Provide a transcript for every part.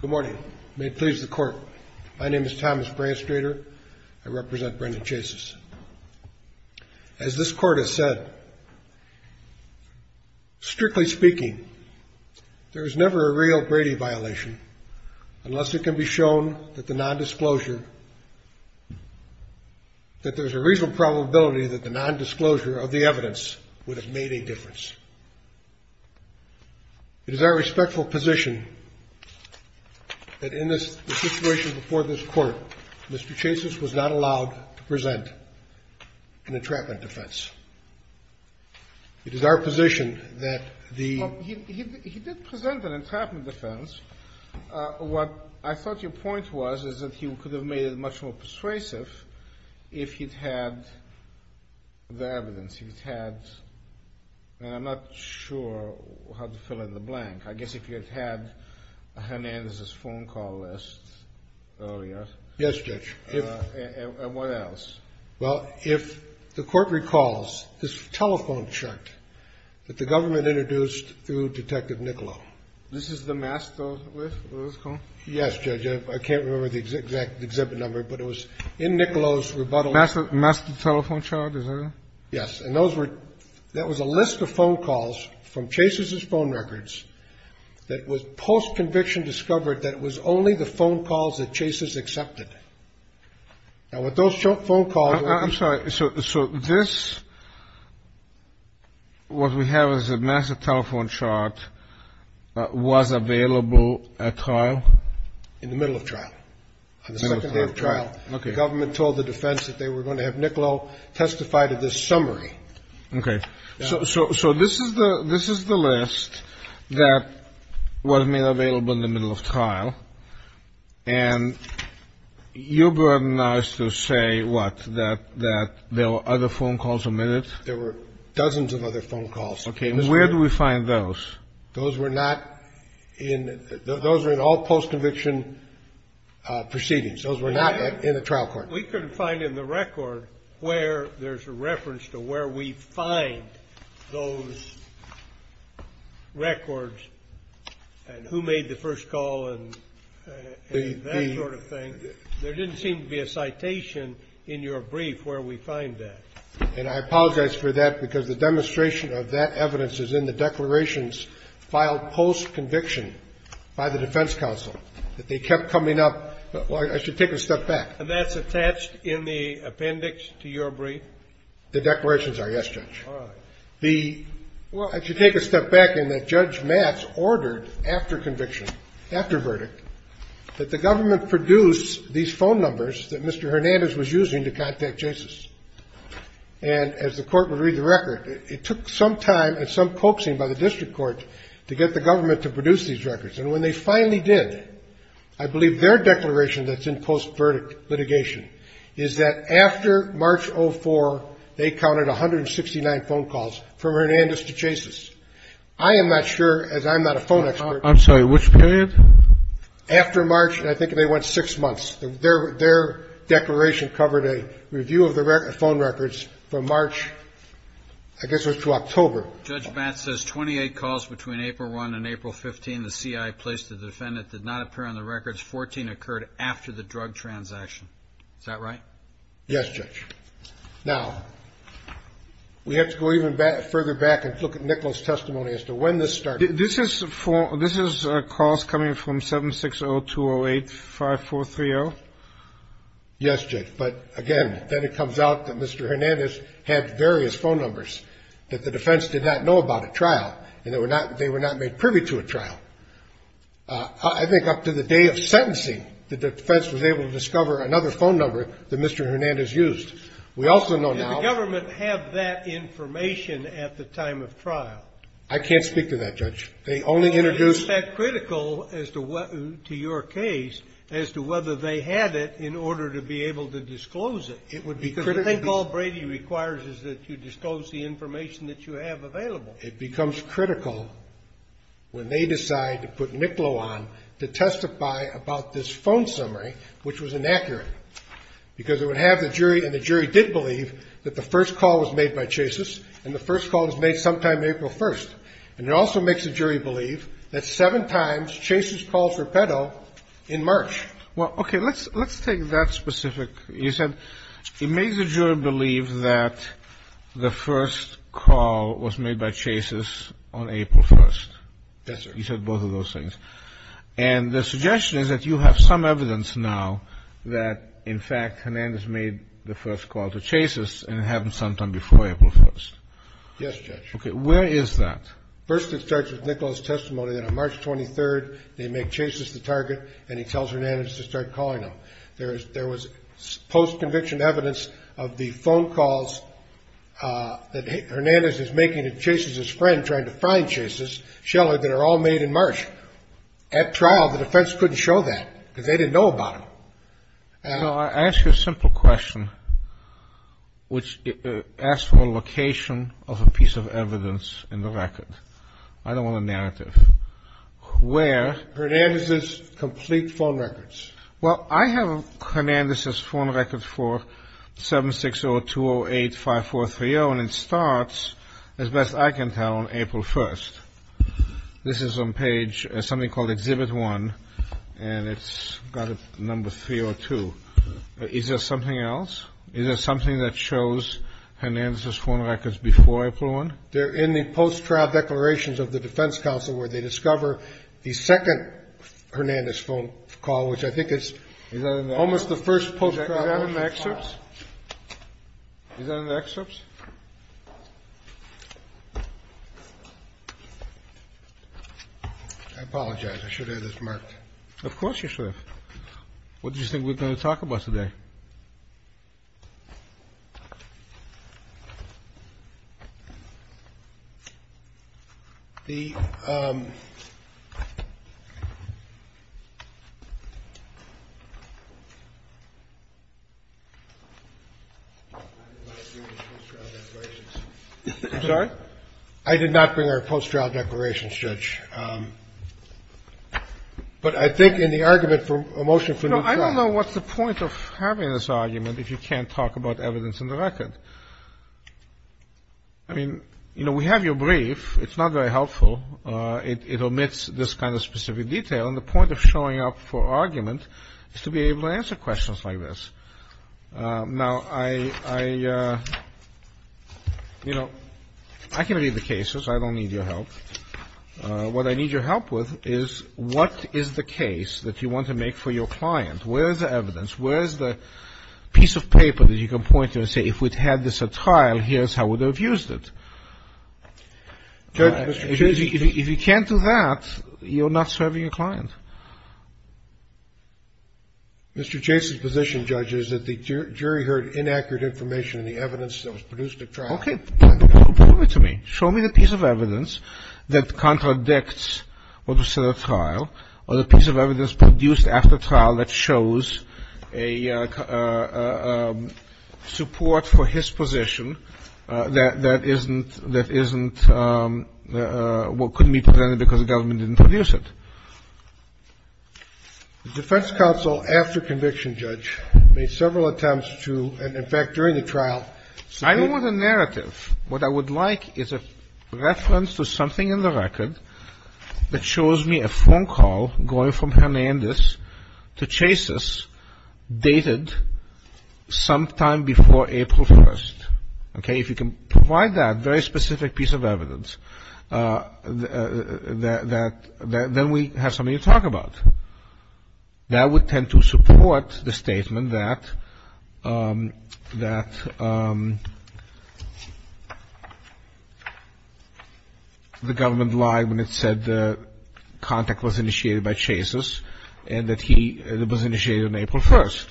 Good morning. May it please the court. My name is Thomas Branstrader. I represent Brendan Chases. As this court has said, strictly speaking, there is never a real Brady violation unless it can be shown that there is a reasonable probability that the non-disclosure of the evidence is true. In the situation before this court, Mr. Chases was not allowed to present an entrapment defense. It is our position that the... He did present an entrapment defense. What I thought your point was is that he could have made it much more persuasive if he had had the evidence. He had had... I am not sure how to fill in the blank. I guess if he had had Hernandez's phone call list earlier. Yes, Judge. And what else? Well, if the court recalls his telephone chart that the government introduced through Detective Niccolo. This is the master list? What is it called? Yes, Judge. I can't remember the exact exhibit number, but it was in Niccolo's rebuttal... Master telephone chart, is that it? Yes. And those were... That was a list of phone calls from Chases's phone records that was post-conviction discovered that was only the phone calls that Chases accepted. Now, with those phone calls... I'm sorry. So this... What we have is a master telephone chart that was available at trial? In the middle of trial. On the second day of trial. Okay. The government told the defense that they were going to have Niccolo testify to this summary. Okay. So this is the list that was made available in the middle of trial. And your burden now is to say what? That there were other phone calls omitted? There were dozens of other phone calls. Okay. Where do we find those? Those were not in... Those were in all post-conviction proceedings. Those were not in the trial court. We couldn't find in the record where there's a reference to where we find those records and who made the first call and that sort of thing. There didn't seem to be a citation in your brief where we find that. And I apologize for that because the demonstration of that evidence is in the declarations filed post-conviction by the defense counsel, that they kept coming up. Well, I should take a step back. And that's attached in the appendix to your brief? The declarations are, yes, Judge. All right. The... Well, I should take a step back in that Judge Matz ordered after conviction, after verdict, that the government produce these phone numbers that Mr. Hernandez was using to contact JASIS. And as the court would read the record, it took some time and some coaxing by the district court to get the government to produce these records. And when they finally did, I believe their declaration that's in post-verdict litigation is that after March 04, they counted 169 phone calls from Hernandez to JASIS. I am not sure, as I'm not a phone expert... I'm sorry. Which period? After March, and I think they went six months. Their declaration covered a review of the phone records from March, I guess it was to October. Judge Matz says 28 calls between April 1 and April 15, the CIA placed the defendant did not appear on the records. 14 occurred after the drug transaction. Is that right? Yes, Judge. Now, we have to go even further back and look at Nichols' testimony as to when this started. This is a call coming from 760-208-5430? Yes, Judge. But again, then it comes out that Mr. Hernandez had various phone numbers that the defense did not know about at trial, and they were not made privy to at trial. I think up to the day of sentencing, the defense was able to discover another phone number that Mr. Hernandez used. We also know now... Did the government have that information at the time of trial? I can't speak to that, Judge. They only introduced... Is that critical to your case as to whether they had it in order to be able to disclose it? The thing Paul Brady requires is that you disclose the information that you have available. It becomes critical when they decide to put Nichols on to testify about this phone summary, which was inaccurate, because it would have the jury, and the jury did believe that the first call was made by Chase's, and the first call was made sometime April 1. And it also makes the jury believe that seven times Chase's called for Petto in March. Well, okay. Let's take that specific. You said it makes the jury believe that the first call was made by Chase's on April 1. Yes, sir. You said both of those things. And the suggestion is that you have some evidence now that, in fact, Hernandez made the first call to Chase's, and it happened sometime before April 1. Yes, Judge. Okay. Where is that? First, it starts with Nichols' testimony that on March 23rd, they make Chase's the target, and he tells Hernandez to start calling them. There was post-conviction evidence of the phone calls that Hernandez is making to Chase's friend trying to find Chase's, Sheller, that are all made in March. At trial, the defense couldn't show that, because they didn't know about them. So I ask you a simple question, which asks for a location of a piece of evidence in the record. I don't want a narrative. Where? Hernandez's complete phone records. Well, I have Hernandez's phone records for 760-208-5430, and it starts, as best I can tell, on April 1st. This is on page something called Exhibit 1, and it's got a number 302. Is there something else? Is there something that shows Hernandez's phone records before April 1? They're in the post-trial declarations of the defense counsel where they discover the second Hernandez phone call, which I think is almost the first post-trial phone call. Is that in the excerpts? Is that in the excerpts? I apologize. I should have had this marked. Of course you should have. What did you think we were going to talk about today? I'm sorry? I did not bring our post-trial declarations, Judge. But I think in the argument for a motion for new trial. I don't know what's the point of having this argument if you can't talk about evidence in the record. I mean, you know, we have your brief. It's not very helpful. It omits this kind of specific detail. And the point of showing up for argument is to be able to answer questions like this. Now, I, you know, I can read the cases. I don't need your help. What I need your help with is what is the case that you want to make for your client? Where is the evidence? Where is the piece of paper that you can point to and say if we'd had this at trial, here's how we would have used it? If you can't do that, you're not serving your client. Mr. Chase's position, Judge, is that the jury heard inaccurate information in the evidence that was produced at trial. Okay. Prove it to me. Show me the piece of evidence that contradicts what was said at trial or the piece of evidence that was produced after trial that shows a support for his position that isn't, that isn't what could be presented because the government didn't produce it. The defense counsel after conviction, Judge, made several attempts to, in fact, during the trial. I don't want a narrative. What I would like is a reference to something in the record that shows me a phone call going from Hernandez to Chase's dated sometime before April 1st. Okay. If you can provide that very specific piece of evidence, then we have something to talk about. That would tend to support the statement that the government lied when it said the contact was initiated by Chase's and that it was initiated on April 1st.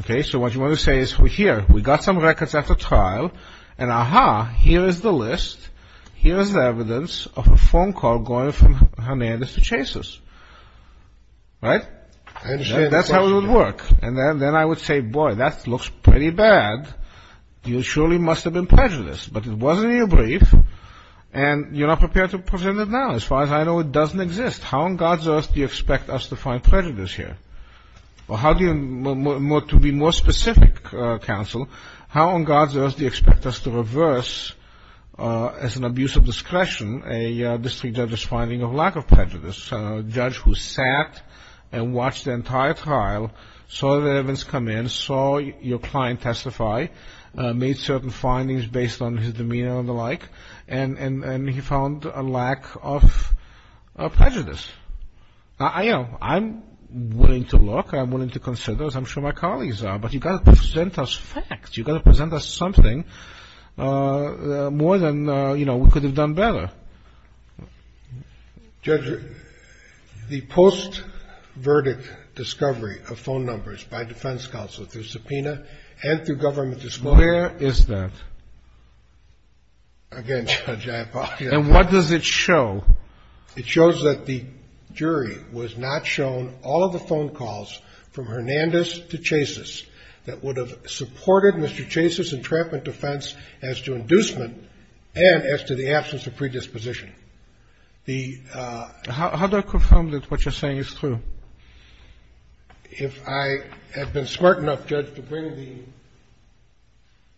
Okay. So what you want to say is, here, we got some records after trial, and, aha, here is the list, here is the evidence of a phone call going from Hernandez to Chase's, right? I understand the question. That's how it would work. And then I would say, boy, that looks pretty bad. You surely must have been prejudiced, but it was in your brief, and you're not prepared to present it now. As far as I know, it doesn't exist. How on God's earth do you expect us to find prejudice here? To be more specific, counsel, how on God's earth do you expect us to reverse, as an abuse of discretion, a district judge's finding of lack of prejudice? A judge who sat and watched the entire trial, saw the evidence come in, saw your client testify, made certain findings based on his demeanor and the like, and he found a lack of prejudice. Now, you know, I'm willing to look, I'm willing to consider, as I'm sure my colleagues are, but you've got to present us facts. You've got to present us something more than, you know, we could have done better. Judge, the post-verdict discovery of phone numbers by defense counsel through subpoena and through government disclosure. Where is that? Again, Judge, I apologize. And what does it show? It shows that the jury was not shown all of the phone calls from Hernandez to Chasis that would have supported Mr. Chasis' entrapment defense as to inducement and as to the absence of predisposition. The ---- How do I confirm that what you're saying is true? If I had been smart enough, Judge, to bring the ----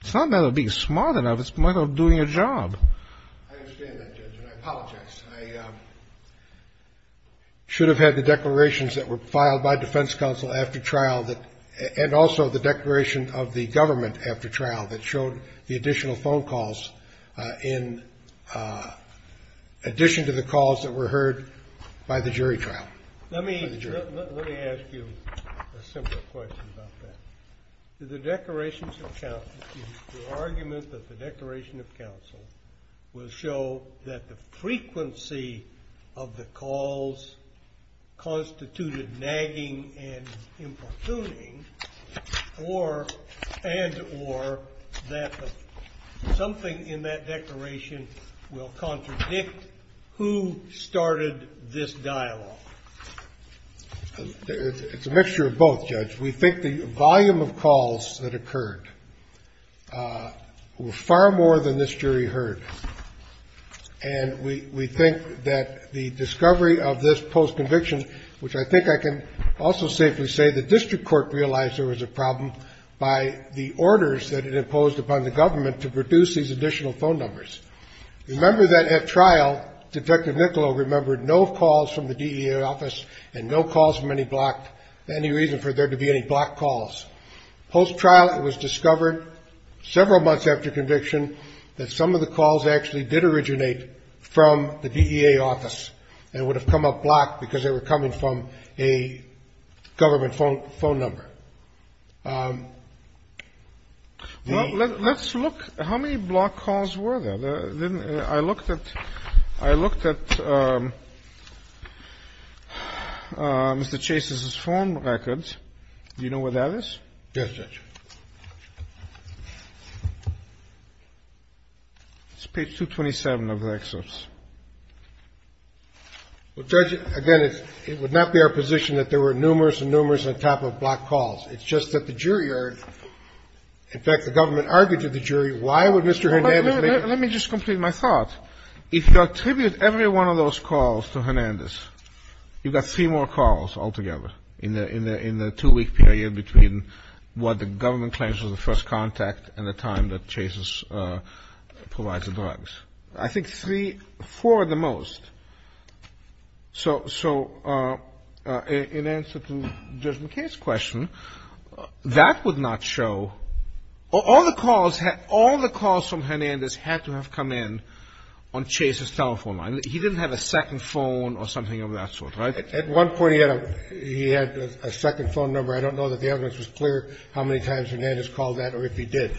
It's not a matter of being smart enough. It's a matter of doing your job. I understand that, Judge, and I apologize. I should have had the declarations that were filed by defense counsel after trial and also the declaration of the government after trial that showed the additional phone calls in addition to the calls that were heard by the jury trial. Let me ask you a simple question about that. Do the declarations of counsel, the argument that the declaration of counsel will show that the frequency of the calls constituted nagging and importuning and or that something in that declaration will contradict who started this dialogue? It's a mixture of both, Judge. We think the volume of calls that occurred were far more than this jury heard, and we think that the discovery of this postconviction, which I think I can also safely say the district court realized there was a problem by the orders that it imposed upon the government to produce these additional phone numbers. Remember that at trial, Detective Niccolo remembered no calls from the DEA office and no calls from any reason for there to be any blocked calls. Posttrial, it was discovered several months after conviction that some of the calls actually did originate from the DEA office and would have come up blocked because they were coming from a government phone number. Let's look. How many blocked calls were there? I looked at Mr. Chase's phone records. Do you know where that is? Yes, Judge. It's page 227 of the excerpts. Well, Judge, again, it would not be our position that there were numerous and numerous on top of blocked calls. It's just that the jury heard. In fact, the government argued to the jury, why would Mr. Hernandez make it? Let me just complete my thought. If you attribute every one of those calls to Hernandez, you've got three more calls altogether in the two-week period between what the government claims was the first contact and the time that Chase provides the drugs. I think three, four at the most. So in answer to Judge McKay's question, that would not show. All the calls from Hernandez had to have come in on Chase's telephone line. He didn't have a second phone or something of that sort, right? At one point he had a second phone number. I don't know that the evidence was clear how many times Hernandez called that or if he did.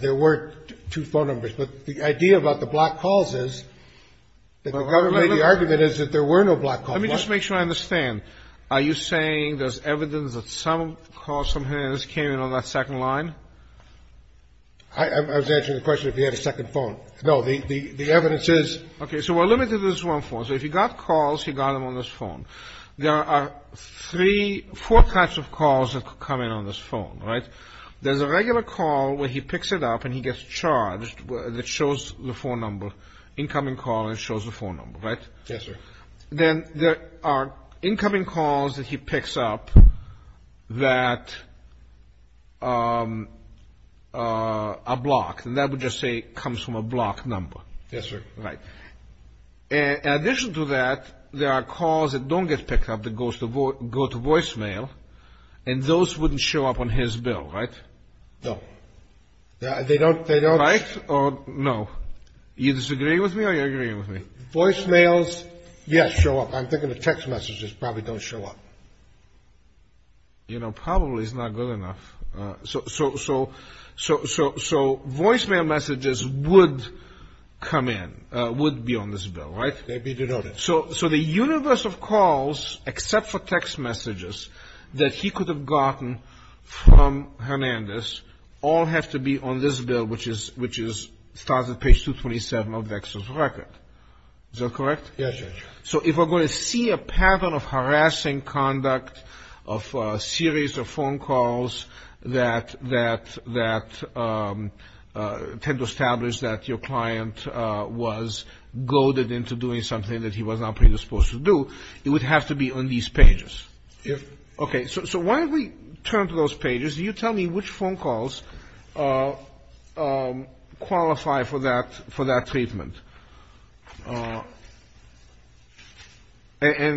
There were two phone numbers. But the idea about the blocked calls is that the government made the argument is that there were no blocked calls. Let me just make sure I understand. Are you saying there's evidence that some calls from Hernandez came in on that second line? I was answering the question if he had a second phone. No. The evidence is. Okay. So we're limited to this one phone. So if he got calls, he got them on this phone. There are three, four types of calls that come in on this phone, right? There's a regular call where he picks it up and he gets charged that shows the phone number, incoming call that shows the phone number, right? Yes, sir. Then there are incoming calls that he picks up that are blocked. And that would just say comes from a blocked number. Yes, sir. Right. In addition to that, there are calls that don't get picked up that go to voicemail, and those wouldn't show up on his bill, right? No. They don't. Right? No. You disagree with me or you agree with me? Voicemails, yes, show up. I'm thinking the text messages probably don't show up. You know, probably is not good enough. So voicemail messages would come in, would be on this bill, right? They'd be denoted. So the universe of calls, except for text messages that he could have gotten from Hernandez, all have to be on this bill, which starts at page 227 of Vex's record. Is that correct? Yes, Judge. So if we're going to see a pattern of harassing conduct of a series of phone calls that tend to establish that your client was goaded into doing something that he was not predisposed to do, it would have to be on these pages. Yes. Okay. So why don't we turn to those pages. Can you tell me which phone calls qualify for that treatment? And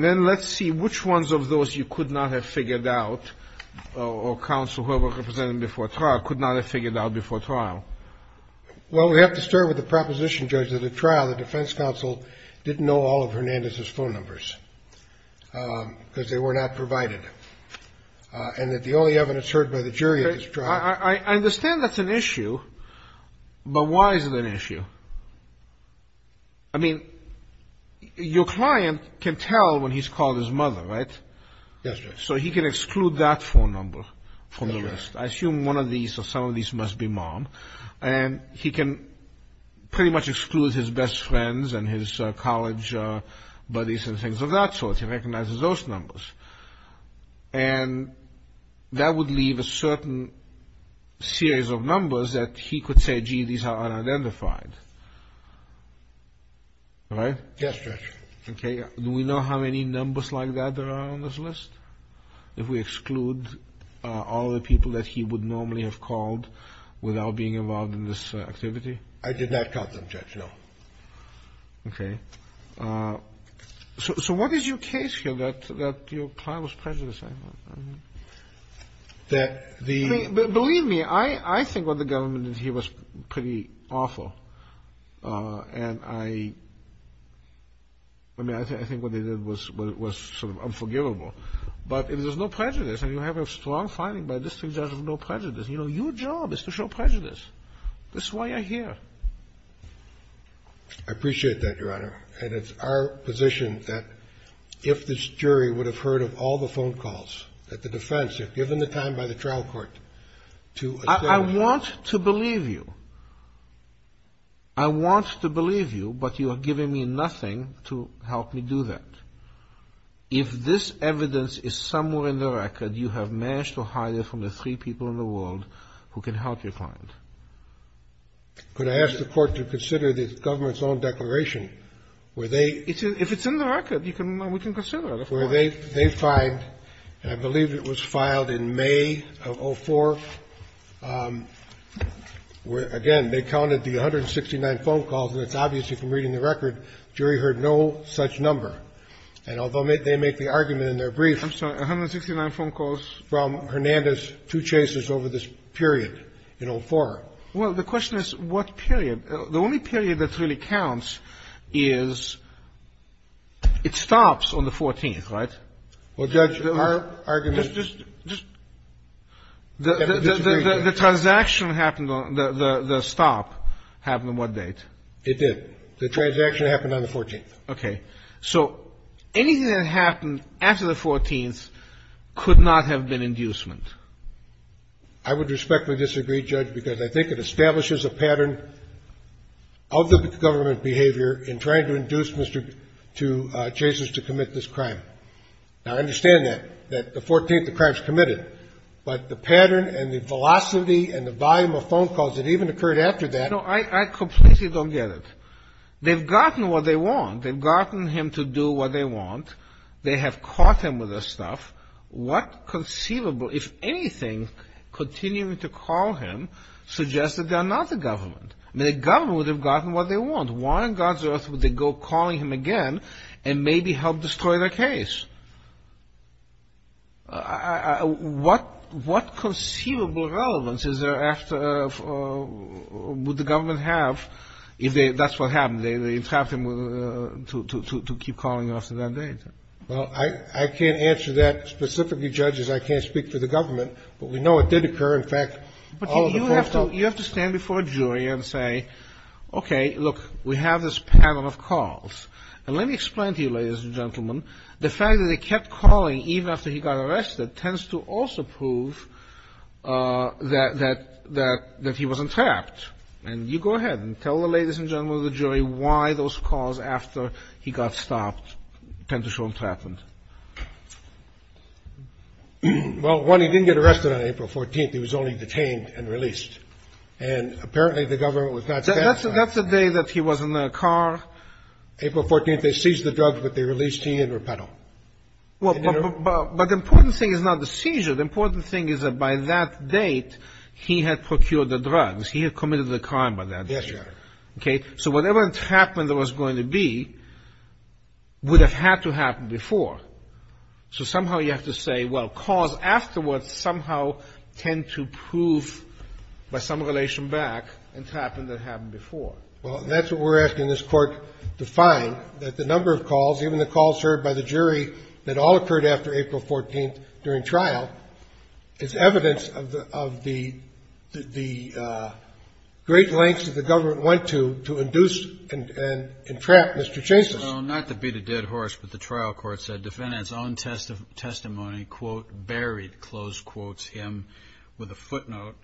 then let's see which ones of those you could not have figured out or counsel, whoever represented him before trial, could not have figured out before trial. Well, we have to start with the proposition, Judge, that at trial, the defense counsel didn't know all of Hernandez's phone numbers because they were not provided. And that the only evidence heard by the jury at this trial. I understand that's an issue, but why is it an issue? I mean, your client can tell when he's called his mother, right? Yes, Judge. So he can exclude that phone number from the list. I assume one of these or some of these must be mom. And he can pretty much exclude his best friends and his college buddies and things of that sort. He recognizes those numbers. And that would leave a certain series of numbers that he could say, gee, these are unidentified. Right? Yes, Judge. Okay. Do we know how many numbers like that there are on this list? If we exclude all the people that he would normally have called without being involved in this activity? I did not count them, Judge, no. Okay. So what is your case here that your client was prejudiced? Believe me, I think what the government did here was pretty awful. And I mean, I think what they did was sort of unforgivable. But if there's no prejudice and you have a strong finding by this three judges of no prejudice, you know, your job is to show prejudice. This is why you're here. I appreciate that, Your Honor. And it's our position that if this jury would have heard of all the phone calls that the defense had given the time by the trial court to establish. I want to believe you. I want to believe you, but you are giving me nothing to help me do that. If this evidence is somewhere in the record, you have managed to hide it from the three people in the world who can help your client. Could I ask the court to consider the government's own declaration where they. If it's in the record, we can consider it. Where they find, and I believe it was filed in May of 04, where, again, they counted the 169 phone calls. And it's obvious from reading the record, jury heard no such number. And although they make the argument in their brief. I'm sorry. 169 phone calls. From Hernandez, two chases over this period in 04. Well, the question is what period. The only period that really counts is it stops on the 14th, right? Well, Judge, our argument. The transaction happened on the stop happened on what date? It did. The transaction happened on the 14th. Okay. So anything that happened after the 14th could not have been inducement. I would respectfully disagree, Judge, because I think it establishes a pattern of the government behavior in trying to induce Mr. to chases to commit this crime. Now, I understand that, that the 14th, the crime's committed. But the pattern and the velocity and the volume of phone calls that even occurred after that. No, I completely don't get it. They've gotten what they want. They've gotten him to do what they want. They have caught him with this stuff. What conceivable, if anything, continuing to call him suggests that they're not the government? I mean, the government would have gotten what they want. Why on God's earth would they go calling him again and maybe help destroy their case? What conceivable relevance would the government have if that's what happened? They trapped him to keep calling after that date. Well, I can't answer that specifically, Judge, as I can't speak for the government. But we know it did occur. In fact, all of the courts felt. But you have to stand before a jury and say, okay, look, we have this pattern of calls. And let me explain to you, ladies and gentlemen, the fact that they kept calling even after he got arrested tends to also prove that he wasn't trapped. And you go ahead and tell the ladies and gentlemen of the jury why those calls after he got stopped tend to show him trapped. Well, one, he didn't get arrested on April 14th. He was only detained and released. And apparently the government was not satisfied. That's the day that he was in the car. April 14th, they seized the drugs, but they released him in repedo. But the important thing is not the seizure. The important thing is that by that date, he had procured the drugs. He had committed the crime by that date. Yes, Your Honor. Okay. So whatever entrapment there was going to be would have had to happen before. So somehow you have to say, well, calls afterwards somehow tend to prove by some relation back entrapment that happened before. Well, that's what we're asking this Court to find, that the number of calls, even the calls heard by the jury that all occurred after April 14th during trial, is evidence of the great lengths that the government went to to induce and entrap Mr. Chasis. Well, not to beat a dead horse, but the trial court said defendant's own testimony, quote, buried, close quotes him with a footnote.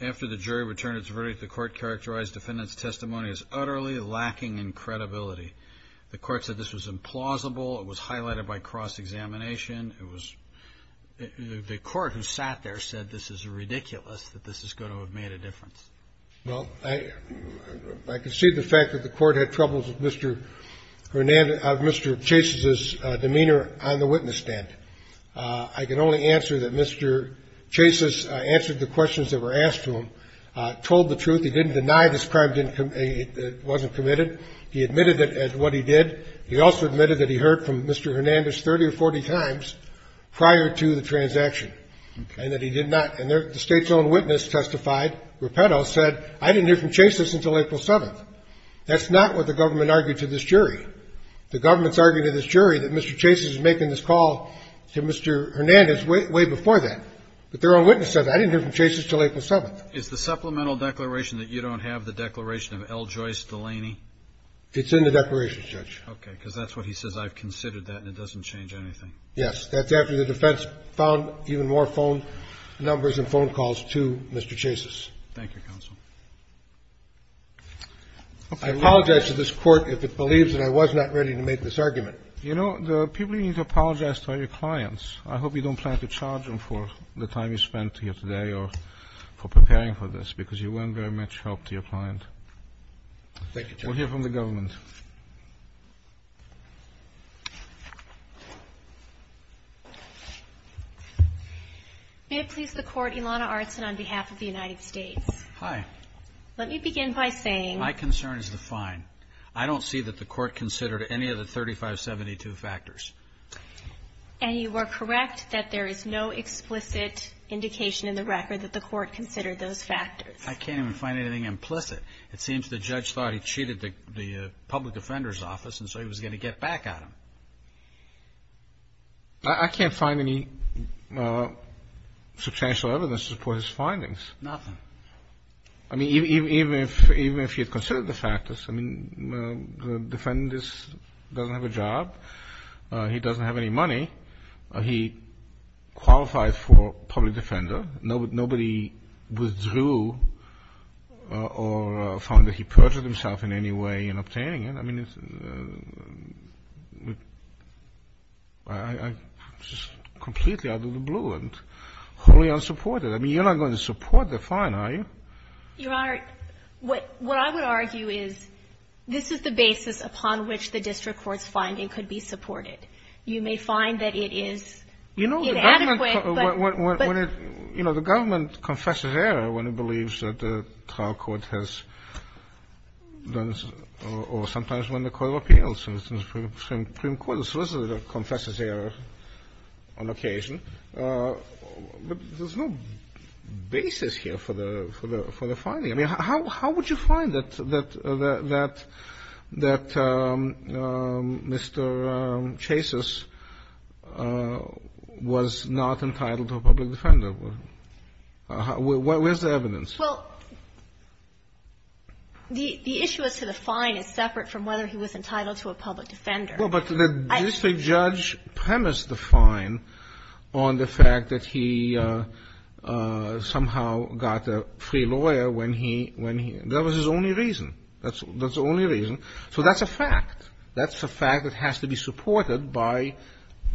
After the jury returned its verdict, the court characterized defendant's testimony as utterly lacking in credibility. The court said this was implausible. It was highlighted by cross-examination. It was the court who sat there said this is ridiculous, that this is going to have made a difference. Well, I concede the fact that the court had troubles with Mr. Hernandez, Mr. Chasis's demeanor on the witness stand. I can only answer that Mr. Chasis answered the questions that were asked to him, told the truth. He didn't deny this crime wasn't committed. He admitted it as what he did. He also admitted that he heard from Mr. Hernandez 30 or 40 times prior to the transaction and that he did not. And the State's own witness testified, Rapetto, said I didn't hear from Chasis until April 7th. That's not what the government argued to this jury. The government's argued to this jury that Mr. Chasis is making this call to Mr. Hernandez way before that. But their own witness said I didn't hear from Chasis until April 7th. Is the supplemental declaration that you don't have the declaration of L. Joyce Delaney? It's in the declaration, Judge. Okay. Because that's what he says, I've considered that, and it doesn't change anything. Yes. That's after the defense found even more phone numbers and phone calls to Mr. Chasis. Thank you, counsel. I apologize to this Court if it believes that I was not ready to make this argument. You know, the people you need to apologize to are your clients. I hope you don't plan to charge them for the time you spent here today or for preparing for this, because you weren't very much help to your client. Thank you, Justice. We'll hear from the government. May it please the Court, Ilana Artson on behalf of the United States. Hi. Let me begin by saying my concern is defined. I don't see that the Court considered any of the 3572 factors. And you are correct that there is no explicit indication in the record that the Court considered those factors. I can't even find anything implicit. It seems the judge thought he cheated the public defender's office, and so he was going to get back at him. I can't find any substantial evidence to support his findings. Nothing. I mean, even if he had considered the factors, I mean, the defendant doesn't have a job. He doesn't have any money. He qualifies for public defender. Nobody withdrew or found that he perjured himself in any way in obtaining it. I mean, I'm just completely out of the blue and wholly unsupported. I mean, you're not going to support the fine, are you? Your Honor, what I would argue is this is the basis upon which the district court's finding could be supported. You know, the government confesses error when it believes that the trial court has done or sometimes when the court of appeals and the Supreme Court of Solicitor confesses error on occasion. But there's no basis here for the finding. I mean, how would you find that Mr. Chasis was not entitled to a public defender? Where's the evidence? Well, the issue as to the fine is separate from whether he was entitled to a public defender. Well, but the district judge premised the fine on the fact that he somehow got a free lawyer when he – that was his only reason. That's the only reason. So that's a fact. That's a fact that has to be supported by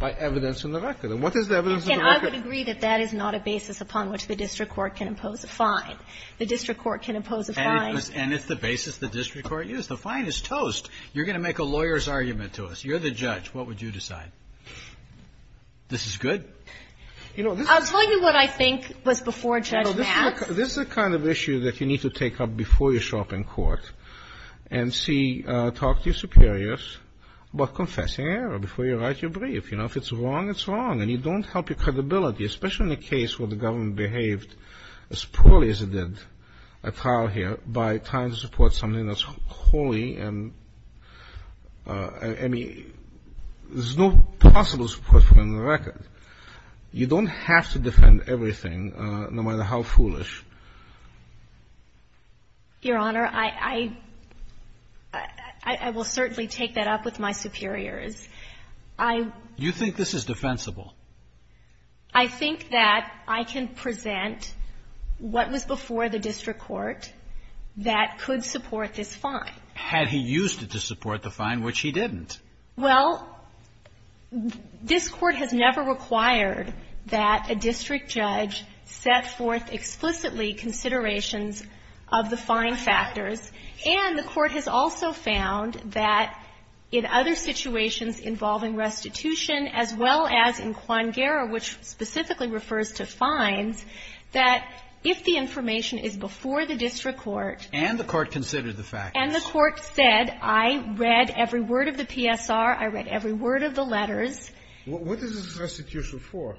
evidence in the record. And what is the evidence in the record? And I would agree that that is not a basis upon which the district court can impose a fine. The district court can impose a fine. And it's the basis the district court used. The fine is toast. You're going to make a lawyer's argument to us. You're the judge. What would you decide? This is good? I'll tell you what I think was before Judge Matz. This is the kind of issue that you need to take up before you show up in court and see – talk to your superiors about confessing error before you write your brief. You know, if it's wrong, it's wrong. And you don't help your credibility, especially in a case where the government behaved as poorly as it did at trial here by trying to support something that's wholly and – I mean, there's no possible support for it in the record. You don't have to defend everything, no matter how foolish. Your Honor, I – I will certainly take that up with my superiors. I – You think this is defensible? I think that I can present what was before the district court that could support this fine. Had he used it to support the fine, which he didn't. Well, this Court has never required that a district judge set forth explicitly considerations of the fine factors. And the Court has also found that in other situations involving restitution, as well as in Quangera, which specifically refers to fines, that if the information is before the district court – And the court considered the factors. And the court said, I read every word of the PSR, I read every word of the letters. What is this restitution for?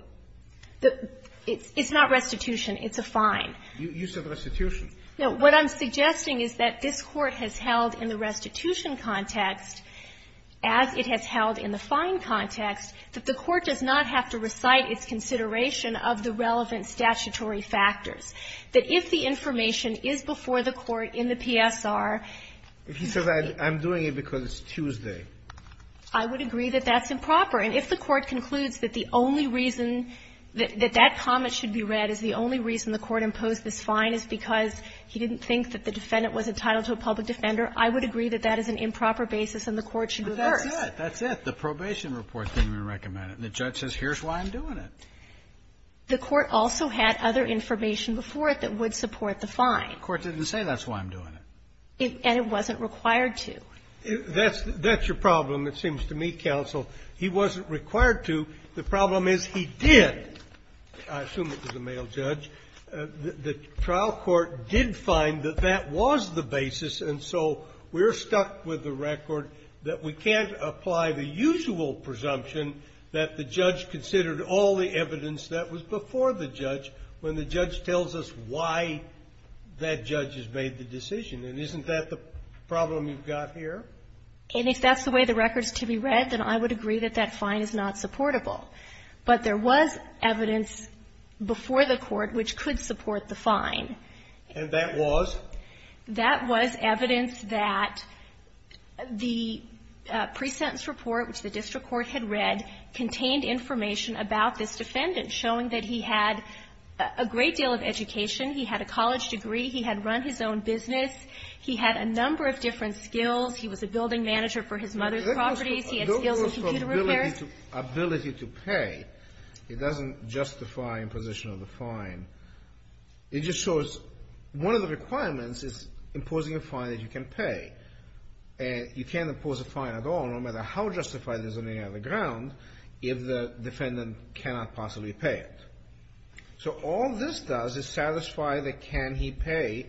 It's not restitution. It's a fine. You said restitution. No. What I'm suggesting is that this Court has held in the restitution context, as it has held in the fine context, that the court does not have to recite its consideration of the relevant statutory factors. That if the information is before the court in the PSR – If he says, I'm doing it because it's Tuesday. I would agree that that's improper. And if the court concludes that the only reason that that comment should be read is the only reason the court imposed this fine is because he didn't think that the defendant was entitled to a public defender, I would agree that that is an improper basis and the court should reverse. But that's it. That's it. The probation report didn't even recommend it. And the judge says, here's why I'm doing it. The court also had other information before it that would support the fine. The court didn't say that's why I'm doing it. And it wasn't required to. That's your problem, it seems to me, counsel. He wasn't required to. The problem is he did. I assume it was a male judge. The trial court did find that that was the basis, and so we're stuck with the record that we can't apply the usual presumption that the judge considered all the evidence that was before the judge when the judge tells us why that judge has made the decision. And isn't that the problem you've got here? And if that's the way the record is to be read, then I would agree that that fine is not supportable. But there was evidence before the court which could support the fine. And that was? That was evidence that the presentence report, which the district court had read, contained information about this defendant, showing that he had a great deal of education. He had a college degree. He had run his own business. He had a number of different skills. He was a building manager for his mother's properties. He had skills in computer repair. He had the ability to pay. It doesn't justify imposition of the fine. It just shows one of the requirements is imposing a fine that you can pay. And you can't impose a fine at all, no matter how justified it is on any other ground, if the defendant cannot possibly pay it. So all this does is satisfy the can he pay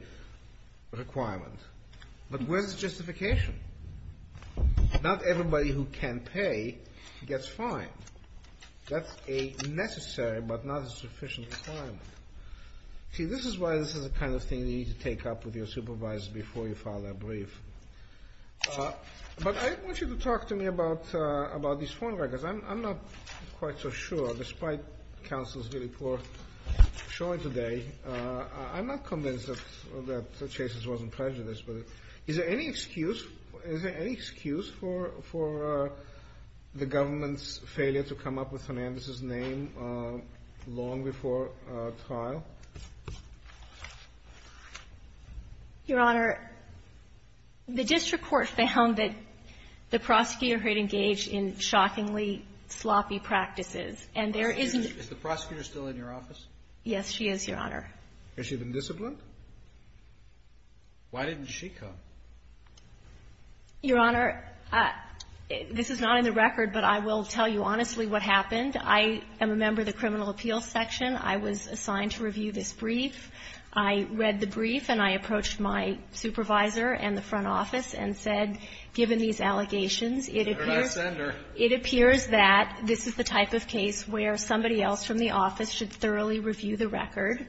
requirement. But where's the justification? Not everybody who can pay gets fined. That's a necessary but not a sufficient requirement. See, this is why this is the kind of thing you need to take up with your supervisor before you file that brief. But I want you to talk to me about these phone records. I'm not quite so sure, despite counsel's really poor showing today. I'm not convinced that the case wasn't prejudiced. But is there any excuse for the government's failure to come up with Hernandez's name long before trial? Your Honor, the district court found that the prosecutor had engaged in shockingly sloppy practices. And there isn't Is the prosecutor still in your office? Yes, she is, Your Honor. Has she been disciplined? Why didn't she come? Your Honor, this is not in the record, but I will tell you honestly what happened. I am a member of the criminal appeals section. I was assigned to review this brief. I read the brief and I approached my supervisor and the front office and said, given these allegations, it appears that this is the type of case where somebody else from the office should thoroughly review the record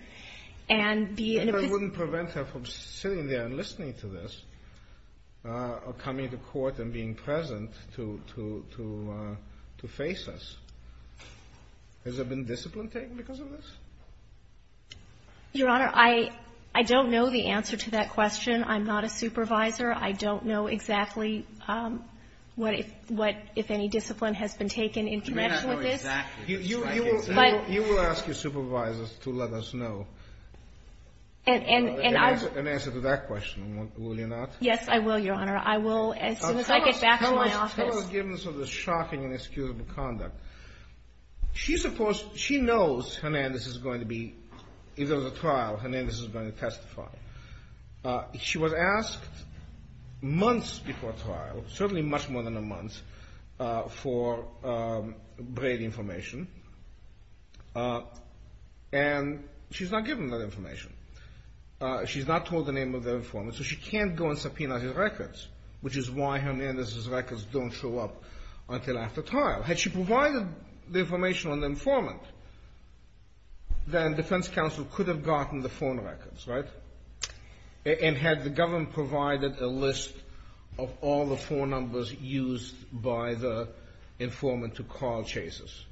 and be in a position And I wouldn't prevent her from sitting there and listening to this or coming to court and being present to face us. Has there been discipline taken because of this? Your Honor, I don't know the answer to that question. I'm not a supervisor. I don't know exactly what, if any, discipline has been taken in connection with this. You will ask your supervisors to let us know an answer to that question, will you not? Yes, I will, Your Honor. I will as soon as I get back to my office. Tell us the givens of the shocking and excusable conduct. She knows Hernandez is going to be, if there's a trial, Hernandez is going to testify. She was asked months before trial, certainly much more than a month, for Brady information. And she's not given that information. She's not told the name of the informant, so she can't go and subpoena his records, which is why Hernandez's records don't show up until after trial. Had she provided the information on the informant, then defense counsel could have gotten the phone records, right? And had the government provided a list of all the phone numbers used by the informant to call chases?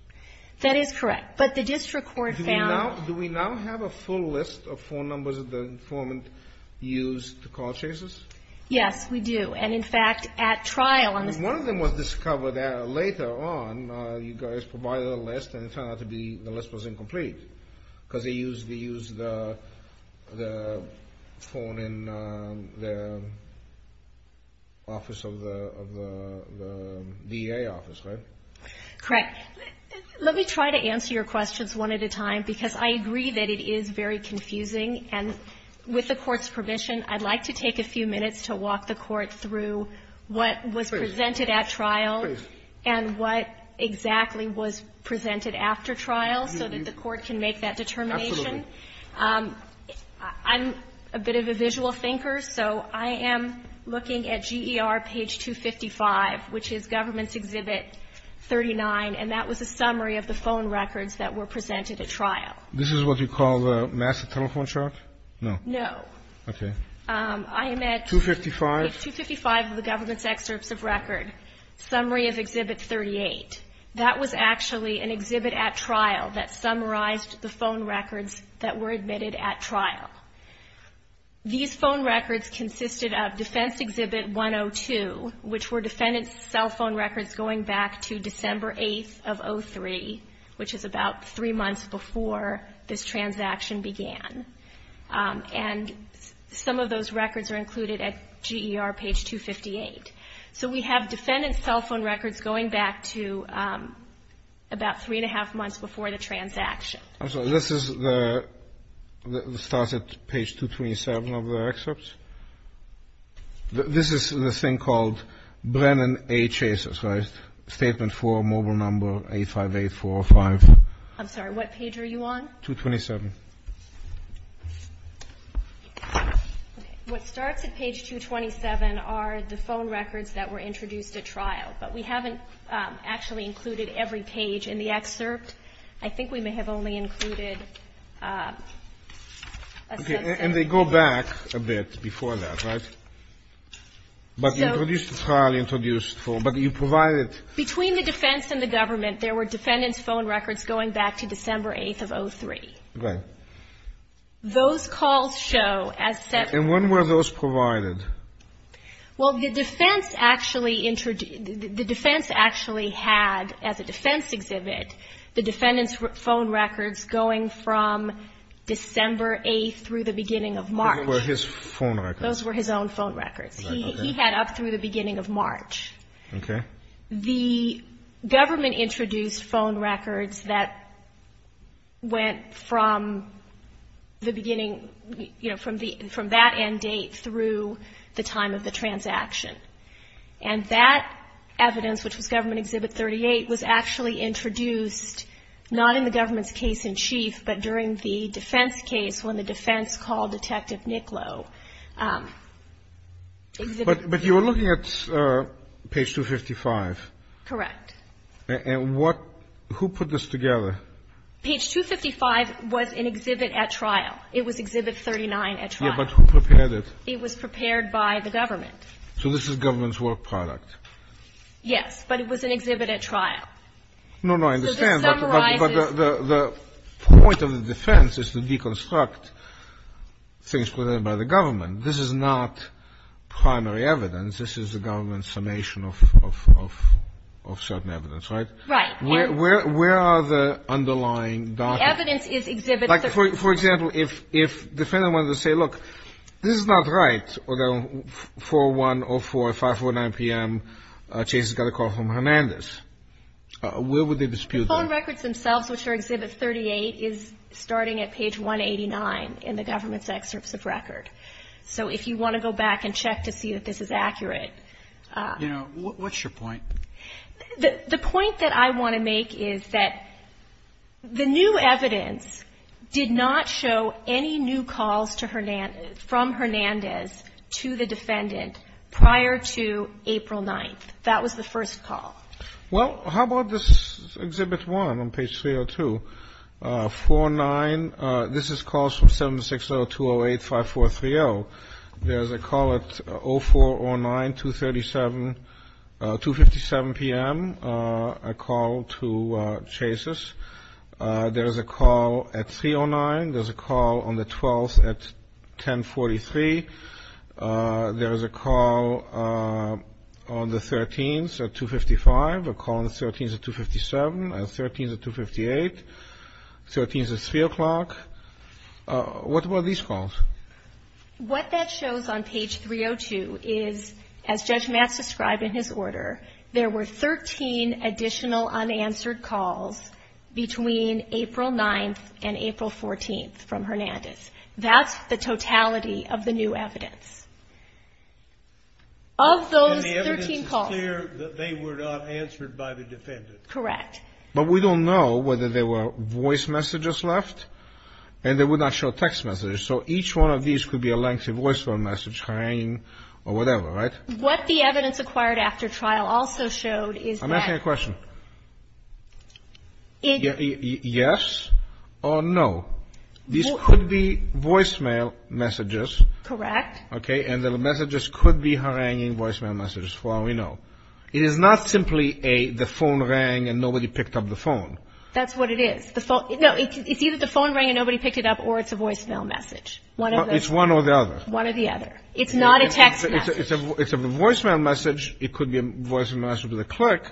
That is correct. But the district court found Do we now have a full list of phone numbers that the informant used to call chases? Yes, we do. And, in fact, at trial One of them was discovered later on. You guys provided a list, and it turned out to be the list was incomplete because they used the phone in the office of the VA office, right? Correct. Let me try to answer your questions one at a time because I agree that it is very confusing. With the Court's permission, I'd like to take a few minutes to walk the Court through what was presented at trial. Please. And what exactly was presented after trial so that the Court can make that determination. Absolutely. I'm a bit of a visual thinker, so I am looking at GER page 255, which is Government's Exhibit 39, and that was a summary of the phone records that were presented at trial. This is what you call the massive telephone chart? No. No. Okay. I am at 255. Page 255 of the Government's Excerpts of Record, summary of Exhibit 38. That was actually an exhibit at trial that summarized the phone records that were admitted at trial. These phone records consisted of Defense Exhibit 102, which were defendant's cell phone records going back to December 8th of 2003, which is about three months before this transaction began. And some of those records are included at GER page 258. So we have defendant's cell phone records going back to about three and a half months before the transaction. I'm sorry. This starts at page 237 of the excerpts? This is the thing called Brennan A. Chases, right? Statement 4, mobile number 858-405. I'm sorry. What page are you on? 227. Okay. What starts at page 227 are the phone records that were introduced at trial. But we haven't actually included every page in the excerpt. I think we may have only included a subset. And they go back a bit before that, right? But introduced at trial, introduced for. But you provided. Between the defense and the government, there were defendant's phone records going back to December 8th of 2003. Right. Those calls show as set. And when were those provided? Well, the defense actually had, as a defense exhibit, the defendant's phone records going from December 8th through the beginning of March. Those were his phone records. Those were his own phone records. He had up through the beginning of March. Okay. The government introduced phone records that went from the beginning, you know, from that end date through the time of the transaction. And that evidence, which was Government Exhibit 38, was actually introduced not in the government's case in chief, but during the defense case when the defense called Detective Nicklow. But you were looking at page 255. Correct. And what ñ who put this together? Page 255 was an exhibit at trial. It was Exhibit 39 at trial. Yes, but who prepared it? It was prepared by the government. So this is government's work product. Yes. But it was an exhibit at trial. No, no. I understand. But the point of the defense is to deconstruct things put in by the government. This is not primary evidence. This is the government's summation of certain evidence, right? Right. Where are the underlying documents? The evidence is Exhibit 39. Like, for example, if the defendant wanted to say, look, this is not right, although 4-1-0-4 at 5-4-9 p.m. Chase got a call from Hernandez. Where would they dispute that? The phone records themselves, which are Exhibit 38, is starting at page 189 in the government's excerpts of record. So if you want to go back and check to see if this is accurate. You know, what's your point? The point that I want to make is that the new evidence did not show any new calls from Hernandez to the defendant prior to April 9th. That was the first call. Well, how about this Exhibit 1 on page 302? 4-9, this is calls from 7-6-0-2-0-8-5-4-3-0. There's a call at 0-4-0-9-2-37, 2-57 p.m., a call to Chase's. There's a call at 3-0-9. There's a call on the 12th at 10-43. There's a call on the 13th at 2-55, a call on the 13th at 2-57, a call on the 13th at 2-58, a call on the 13th at 3 o'clock. What about these calls? What that shows on page 302 is, as Judge Matz described in his order, there were 13 additional unanswered calls between April 9th and April 14th from Hernandez. That's the totality of the new evidence. Of those 13 calls. And the evidence is clear that they were not answered by the defendant. Correct. But we don't know whether there were voice messages left, and they would not show text messages. So each one of these could be a lengthy voice phone message, hanging, or whatever, right? What the evidence acquired after trial also showed is that. I'm asking a question. Yes or no? Well, these could be voicemail messages. Correct. Okay. And the messages could be haranguing voicemail messages, for all we know. It is not simply the phone rang and nobody picked up the phone. That's what it is. No, it's either the phone rang and nobody picked it up, or it's a voicemail message. It's one or the other. One or the other. It's not a text message. It's a voicemail message. It could be a voicemail message with a click,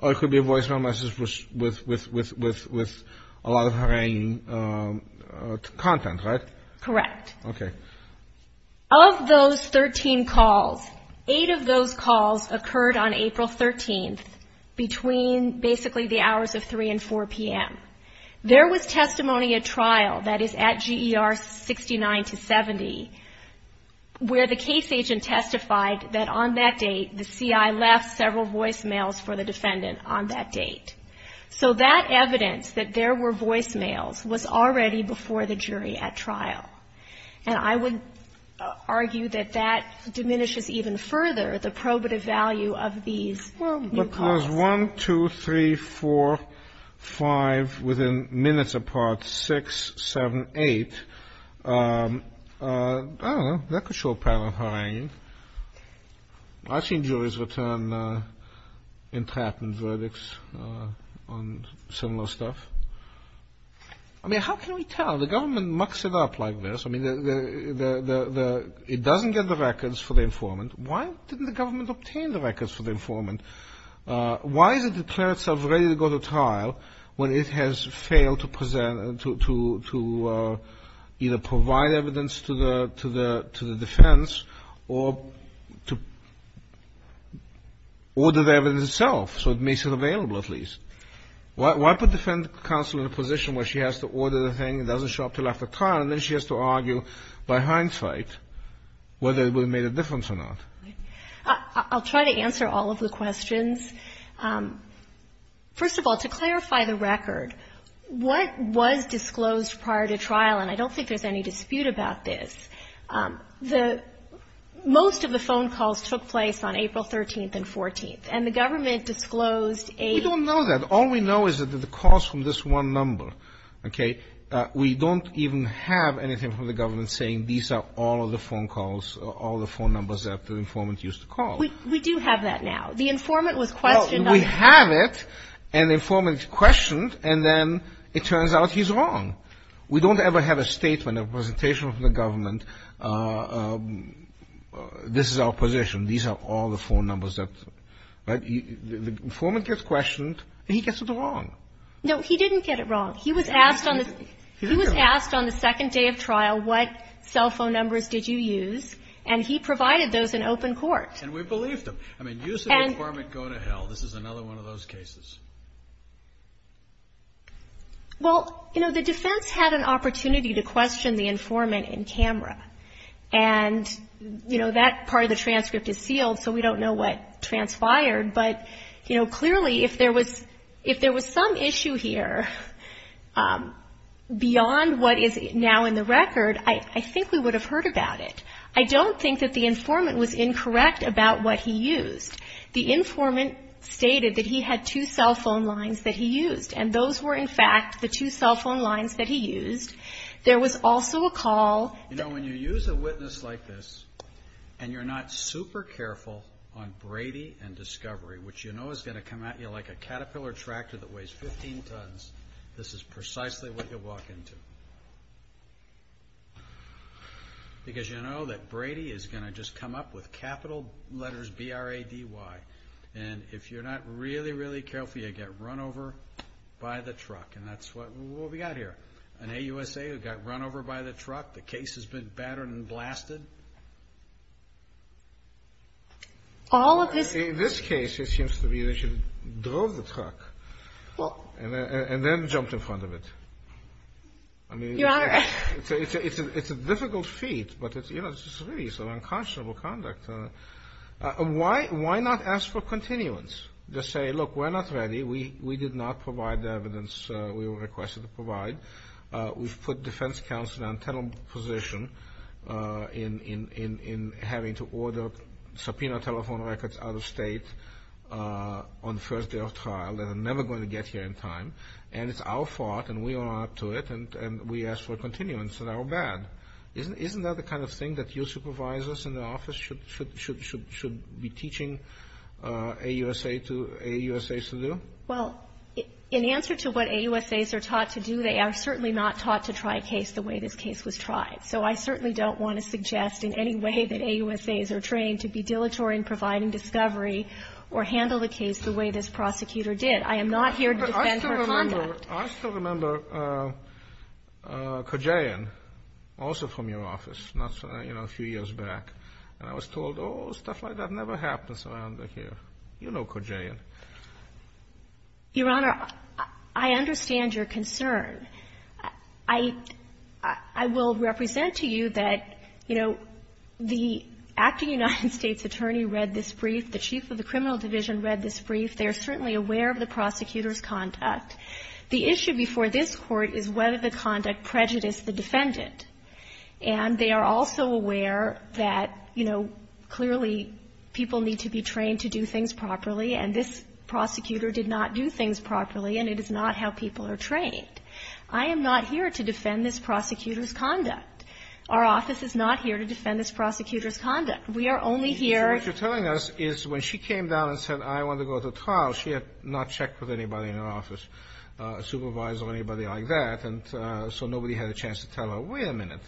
or it could be a voicemail message with a lot of haranguing content, right? Correct. Okay. Of those 13 calls, eight of those calls occurred on April 13th, between basically the hours of 3 and 4 p.m. There was testimony at trial, that is at GER 69 to 70, where the case agent testified that on that date the CI left several voicemails for the defendant on that date. So that evidence, that there were voicemails, was already before the jury at trial. And I would argue that that diminishes even further the probative value of these new calls. There was one, two, three, four, five, within minutes apart, six, seven, eight. I don't know. That could show apparent haranguing. I've seen juries return entrapment verdicts on similar stuff. I mean, how can we tell? The government mucks it up like this. I mean, it doesn't get the records for the informant. Why didn't the government obtain the records for the informant? Why is it declared itself ready to go to trial when it has failed to present, to either provide evidence to the defense or to order the evidence itself, so it makes it available at least? Why put defendant counsel in a position where she has to order the thing, doesn't show up until after trial, and then she has to argue by hindsight whether it would have made a difference or not? I'll try to answer all of the questions. First of all, to clarify the record, what was disclosed prior to trial? And I don't think there's any dispute about this. Most of the phone calls took place on April 13th and 14th. And the government disclosed a ---- We don't know that. All we know is that the calls from this one number, okay, we don't even have anything from the government saying these are all of the phone calls, all the phone numbers that the informant used to call. We do have that now. The informant was questioned on the phone. Well, we have it, and the informant is questioned, and then it turns out he's wrong. We don't ever have a statement, a presentation from the government, this is our position, these are all the phone numbers that, right? The informant gets questioned, and he gets it wrong. No, he didn't get it wrong. He was asked on the second day of trial what cell phone numbers did you use, and he provided those in open court. And we believed him. I mean, use the informant, go to hell. This is another one of those cases. Well, you know, the defense had an opportunity to question the informant in camera. And, you know, that part of the transcript is sealed, so we don't know what transpired. But, you know, clearly if there was some issue here beyond what is now in the record, I think we would have heard about it. I don't think that the informant was incorrect about what he used. The informant stated that he had two cell phone lines that he used, and those were, in fact, the two cell phone lines that he used. There was also a call. You know, when you use a witness like this and you're not super careful on Brady and Discovery, which you know is going to come at you like a caterpillar tractor that weighs 15 tons, this is precisely what you'll walk into. Because you know that Brady is going to just come up with capital letters B-R-A-D-Y. And if you're not really, really careful, you'll get run over by the truck. And that's what we've got here. An AUSA who got run over by the truck. The case has been battered and blasted. All of this. In this case, it seems to me they should have drove the truck and then jumped in front of it. Your Honor. I mean, it's a difficult feat, but it's really some unconscionable conduct. Why not ask for continuance? Just say, look, we're not ready. We did not provide the evidence we were requested to provide. We've put defense counsel in an untenable position in having to order subpoena telephone records out of state on the first day of trial. They're never going to get here in time. And it's our fault, and we are up to it, and we ask for continuance, and our bad. Isn't that the kind of thing that your supervisors in the office should be teaching AUSAs to do? Well, in answer to what AUSAs are taught to do, they are certainly not taught to try a case the way this case was tried. So I certainly don't want to suggest in any way that AUSAs are trained to be dilatory in providing discovery or handle the case the way this prosecutor did. I am not here to defend her conduct. I still remember Kojaian, also from your office, you know, a few years back. And I was told, oh, stuff like that never happens around here. You know Kojaian. Your Honor, I understand your concern. I will represent to you that, you know, the acting United States attorney read this brief. The chief of the criminal division read this brief. They are certainly aware of the prosecutor's conduct. The issue before this Court is whether the conduct prejudiced the defendant. And they are also aware that, you know, clearly people need to be trained to do things properly, and this prosecutor did not do things properly, and it is not how people are trained. I am not here to defend this prosecutor's conduct. Our office is not here to defend this prosecutor's conduct. We are only here to ---- What you're telling us is when she came down and said I want to go to trial, she had not checked with anybody in her office, a supervisor or anybody like that, and so nobody had a chance to tell her, wait a minute.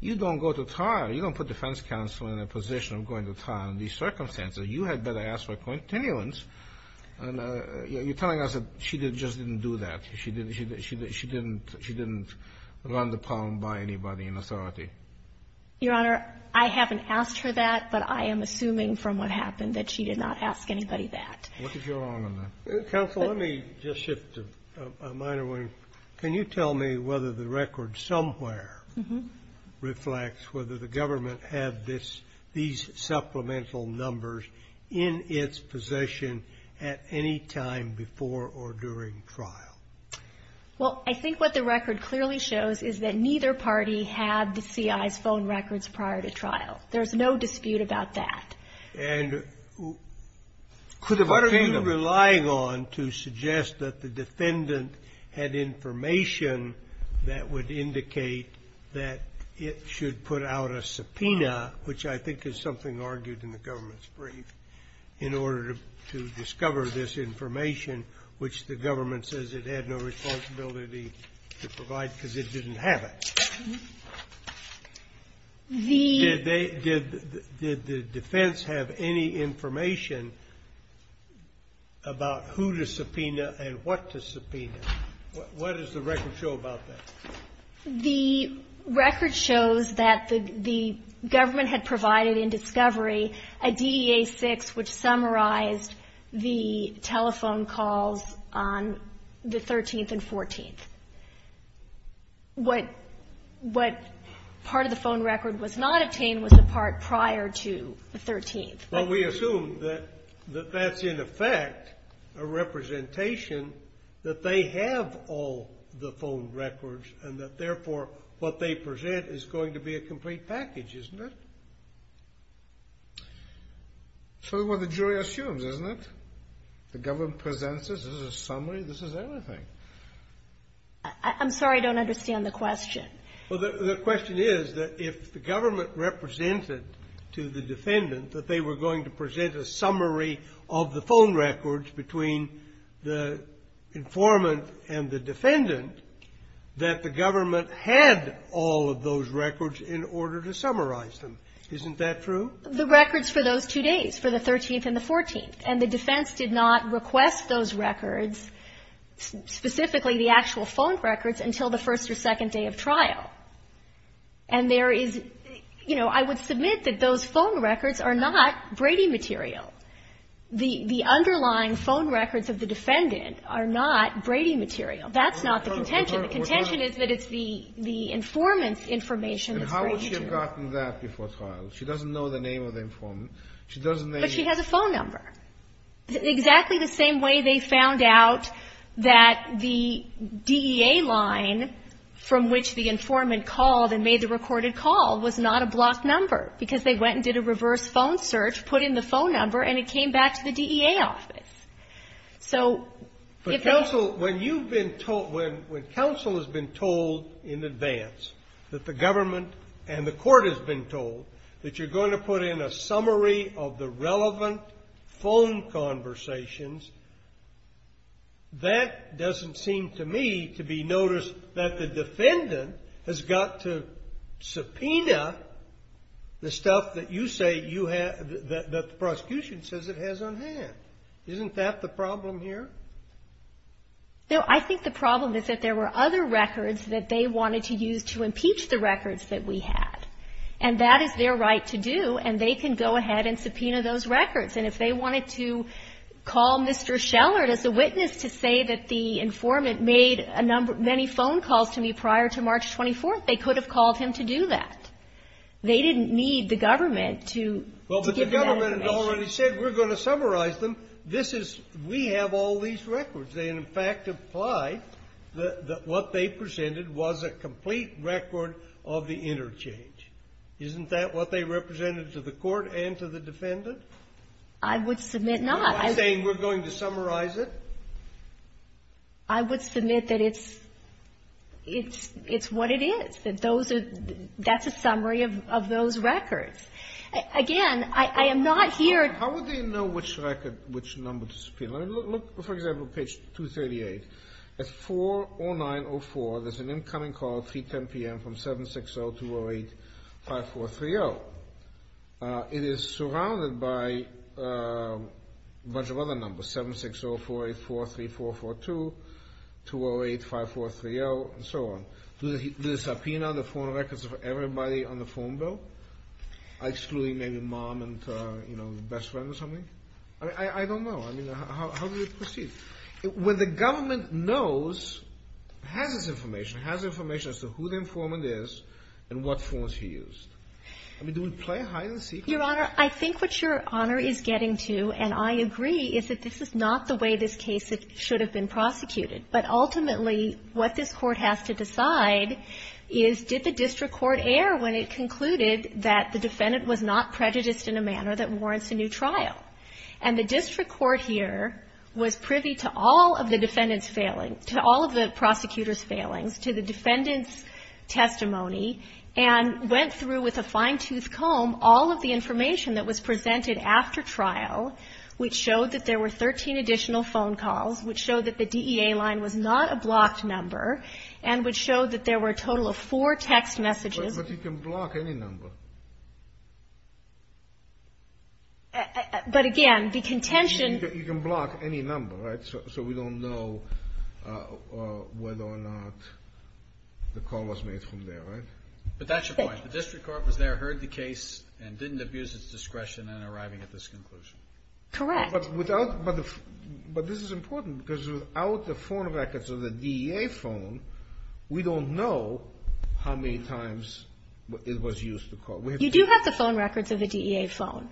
You don't go to trial. You don't put defense counsel in a position of going to trial in these circumstances. You had better ask for continuance. And you're telling us that she just didn't do that. She didn't run the problem by anybody in authority. Your Honor, I haven't asked her that, but I am assuming from what happened that she did not ask anybody that. What did you wrong on that? Counsel, let me just shift to a minor one. Can you tell me whether the record somewhere reflects whether the government had these supplemental numbers in its possession at any time before or during trial? Well, I think what the record clearly shows is that neither party had the C.I.'s phone records prior to trial. There's no dispute about that. And what are you relying on to suggest that the defendant had information that would indicate that it should put out a subpoena, which I think is something argued in the government's brief, in order to discover this information, which the government says it had no responsibility to provide because it didn't have it? Did the defense have any information about who to subpoena and what to subpoena? What does the record show about that? The record shows that the government had provided in discovery a DEA-6, which summarized the telephone calls on the 13th and 14th. What part of the phone record was not obtained was the part prior to the 13th. But we assume that that's, in effect, a representation that they have all the phone records and that, therefore, what they present is going to be a complete package, isn't it? It's sort of what the jury assumes, isn't it? The government presents this as a summary. This is everything. I'm sorry. I don't understand the question. Well, the question is that if the government represented to the defendant that they were going to present a summary of the phone records between the informant and the defendant, that the government had all of those records in order to summarize them. Isn't that true? The records for those two days, for the 13th and the 14th. And the defense did not request those records, specifically the actual phone records, until the first or second day of trial. And there is, you know, I would submit that those phone records are not Brady material. The underlying phone records of the defendant are not Brady material. That's not the contention. The contention is that it's the informant's information that's Brady material. And how would she have gotten that before trial? She doesn't know the name of the informant. She doesn't know the name. But she has a phone number. Exactly the same way they found out that the DEA line from which the informant called and made the recorded call was not a blocked number, because they went and did a reverse phone search, put in the phone number, and it came back to the DEA office. So if that's the case. But counsel, when you've been told, when counsel has been told in advance that the government and the court has been told that you're going to put in a summary of the relevant phone conversations, that doesn't seem to me to be noticed that the defendant has got to subpoena the stuff that you say you have, that the prosecution says it has on hand. Isn't that the problem here? No, I think the problem is that there were other records that they wanted to use to impeach the records that we had. And that is their right to do. And they can go ahead and subpoena those records. And if they wanted to call Mr. Schellert as a witness to say that the informant made a number of many phone calls to me prior to March 24th, they could have called him to do that. They didn't need the government to give that information. The defendant already said we're going to summarize them. This is we have all these records. They, in fact, imply that what they presented was a complete record of the interchange. Isn't that what they represented to the court and to the defendant? I would submit not. I'm saying we're going to summarize it. I would submit that it's what it is, that those are the – that's a summary of those records. Again, I am not here – How would they know which record, which number to subpoena? Look, for example, page 238. At 4-0904, there's an incoming call at 310 p.m. from 760-208-5430. It is surrounded by a bunch of other numbers, 760-484-3442, 208-5430, and so on. Do they subpoena the phone records of everybody on the phone bill? Excluding maybe mom and, you know, best friend or something? I don't know. I mean, how do you proceed? When the government knows, has this information, has information as to who the informant is and what forms he used. I mean, do we play hide-and-seek? Your Honor, I think what Your Honor is getting to, and I agree, is that this is not the way this case should have been prosecuted. But ultimately, what this Court has to decide is did the district court err when it concluded that the defendant was not prejudiced in a manner that warrants a new trial. And the district court here was privy to all of the defendant's failings, to all of the prosecutor's failings, to the defendant's testimony, and went through with a fine-toothed comb all of the information that was presented after trial, which showed that there were 13 additional phone calls, which showed that the DEA line was not a blocked number, and which showed that there were a total of four text messages. But you can block any number. But again, the contention You can block any number, right? So we don't know whether or not the call was made from there, right? But that's your point. The district court was there, heard the case, and didn't abuse its discretion in arriving at this conclusion. Correct. But this is important, because without the phone records of the DEA phone, we don't know how many times it was used to call. You do have the phone records of the DEA phone.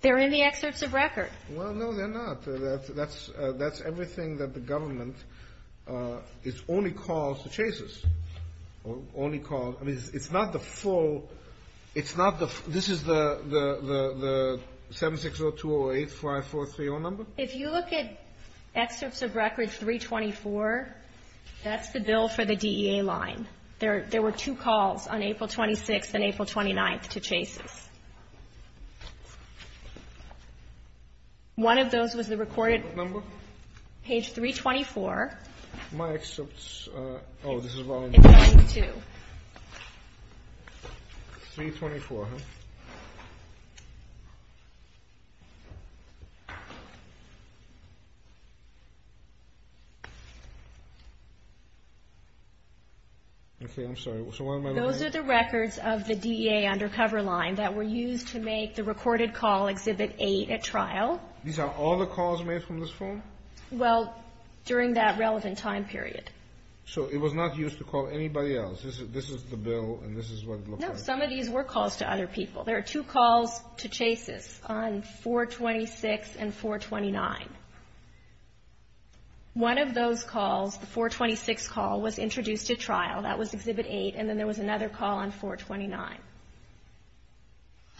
They're in the excerpts of record. Well, no, they're not. That's everything that the government only calls the chases, only calls. I mean, it's not the full This is the 7602085430 number? If you look at excerpts of record 324, that's the bill for the DEA line. There were two calls on April 26th and April 29th to chases. One of those was the recorded page 324. My excerpts, oh, this is wrong. It's 9-2. 324, huh? Okay, I'm sorry. So what am I looking at? Those are the records of the DEA undercover line that were used to make the recorded call Exhibit 8 at trial. These are all the calls made from this phone? Well, during that relevant time period. So it was not used to call anybody else. This is the bill, and this is what it looks like. No, some of these were calls to other people. There are two calls to chases on 426 and 429. One of those calls, the 426 call, was introduced at trial. That was Exhibit 8, and then there was another call on 429.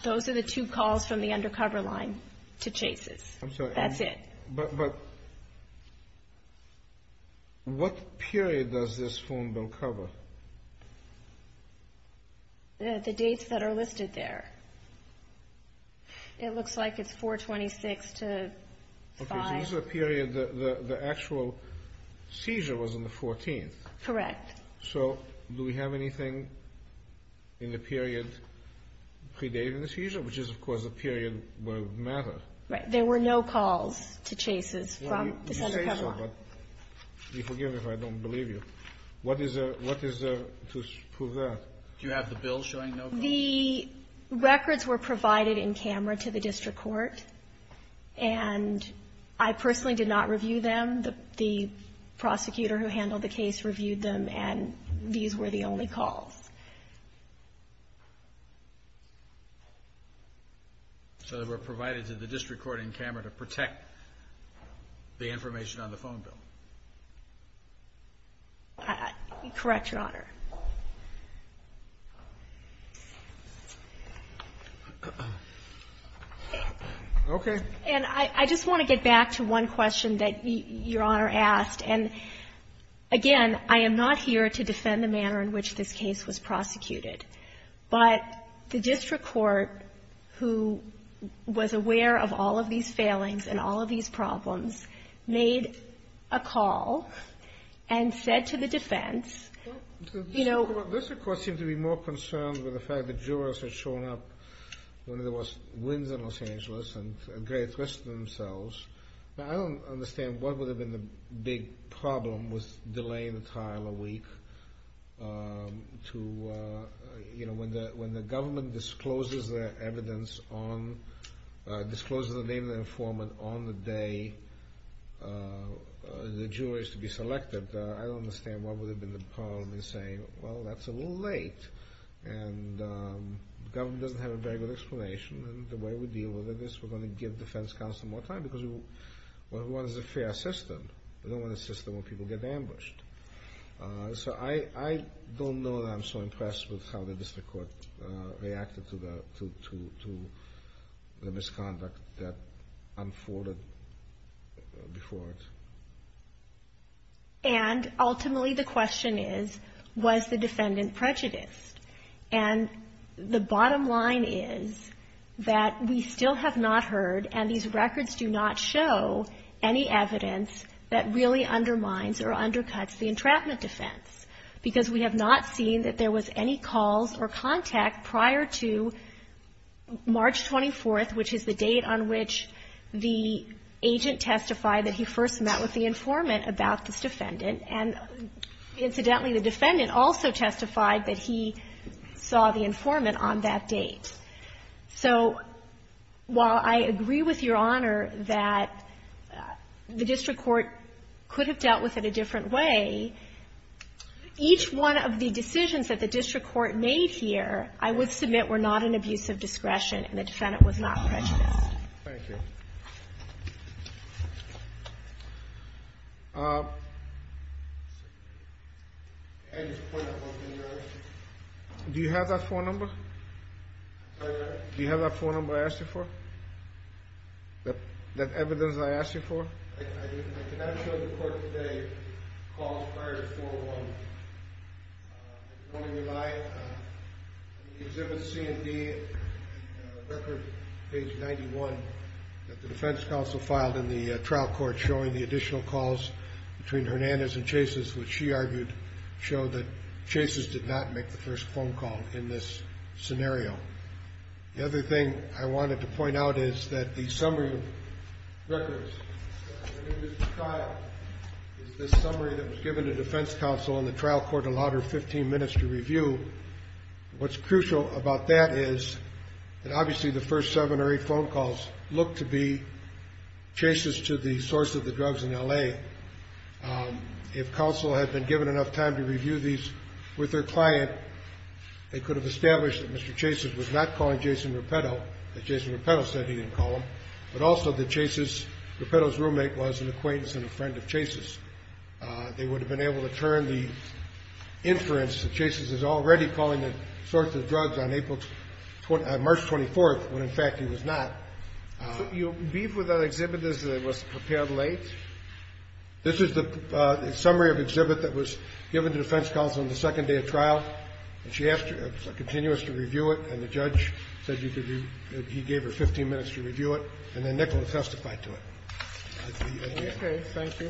Those are the two calls from the undercover line to chases. I'm sorry. That's it. But what period does this phone bill cover? The dates that are listed there. It looks like it's 426 to 5. Okay, so this is a period that the actual seizure was on the 14th. Correct. So do we have anything in the period predating the seizure, which is, of course, a period where it mattered? Right. There were no calls to chases from the undercover line. You say so, but forgive me if I don't believe you. What is there to prove that? Do you have the bill showing no calls? The records were provided in camera to the district court, and I personally did not review them. The prosecutor who handled the case reviewed them, and these were the only calls. So they were provided to the district court in camera to protect the information on the phone bill. Correct, Your Honor. Okay. And I just want to get back to one question that Your Honor asked, and, again, I am not here to defend the manner in which this case was prosecuted, but the district court, who was aware of all of these failings and all of these problems, made a call and said to the defense, you know — The district court seemed to be more concerned with the fact that jurors had shown up when there was winds in Los Angeles and a great risk to themselves. Now, I don't understand what would have been the big problem with delaying the trial a week to, you know, when the government discloses their evidence on — discloses the name of the informant on the day the jury is to be selected. I don't understand what would have been the problem in saying, well, that's a little late, and the government doesn't have a very good explanation, and the way we deal with this, we're going to give defense counsel more time because we want a fair system. We don't want a system where people get ambushed. So I don't know that I'm so impressed with how the district court reacted to the misconduct that unfolded before it. And ultimately, the question is, was the defendant prejudiced? And the bottom line is that we still have not heard, and these records do not show, any evidence that really undermines or undercuts the entrapment defense, because we have not seen that there was any calls or contact prior to March 24th, which is the date on which the agent testified that he first met with the informant about this defendant. And incidentally, the defendant also testified that he saw the informant on that date. So while I agree with Your Honor that the district court could have dealt with it a different way, each one of the decisions that the district court made here, I would submit, were not an abuse of discretion and the defendant was not prejudiced. Thank you. Do you have that phone number? Do you have that phone number I asked you for? That evidence I asked you for? I cannot show the court today calls prior to 4-1. I can only rely on the exhibit C and D record, page 91, that the defense counsel filed in the trial court showing the additional calls between Hernandez and Chases, which she argued showed that Chases did not make the first phone call in this scenario. The other thing I wanted to point out is that the summary records in this trial is the summary that was given to defense counsel and the trial court allowed her 15 minutes to review. What's crucial about that is that obviously the first seven or eight phone calls look to be Chases to the source of the drugs in L.A. If counsel had been given enough time to review these with her client, they could have established that Mr. Chases was not calling Jason Rapetto, that Jason Rapetto said he didn't call him, but also that Chases, Rapetto's roommate, was an acquaintance and a friend of Chases. They would have been able to turn the inference that Chases is already calling the source of the drugs on March 24th, when, in fact, he was not. You leave with that exhibit as it was prepared late? This is the summary of the exhibit that was given to defense counsel on the second day of trial, and she asked a continuance to review it, and the judge said he gave her 15 minutes to review it, and then Nicholas testified to it. Thank you. Okay. Thank you.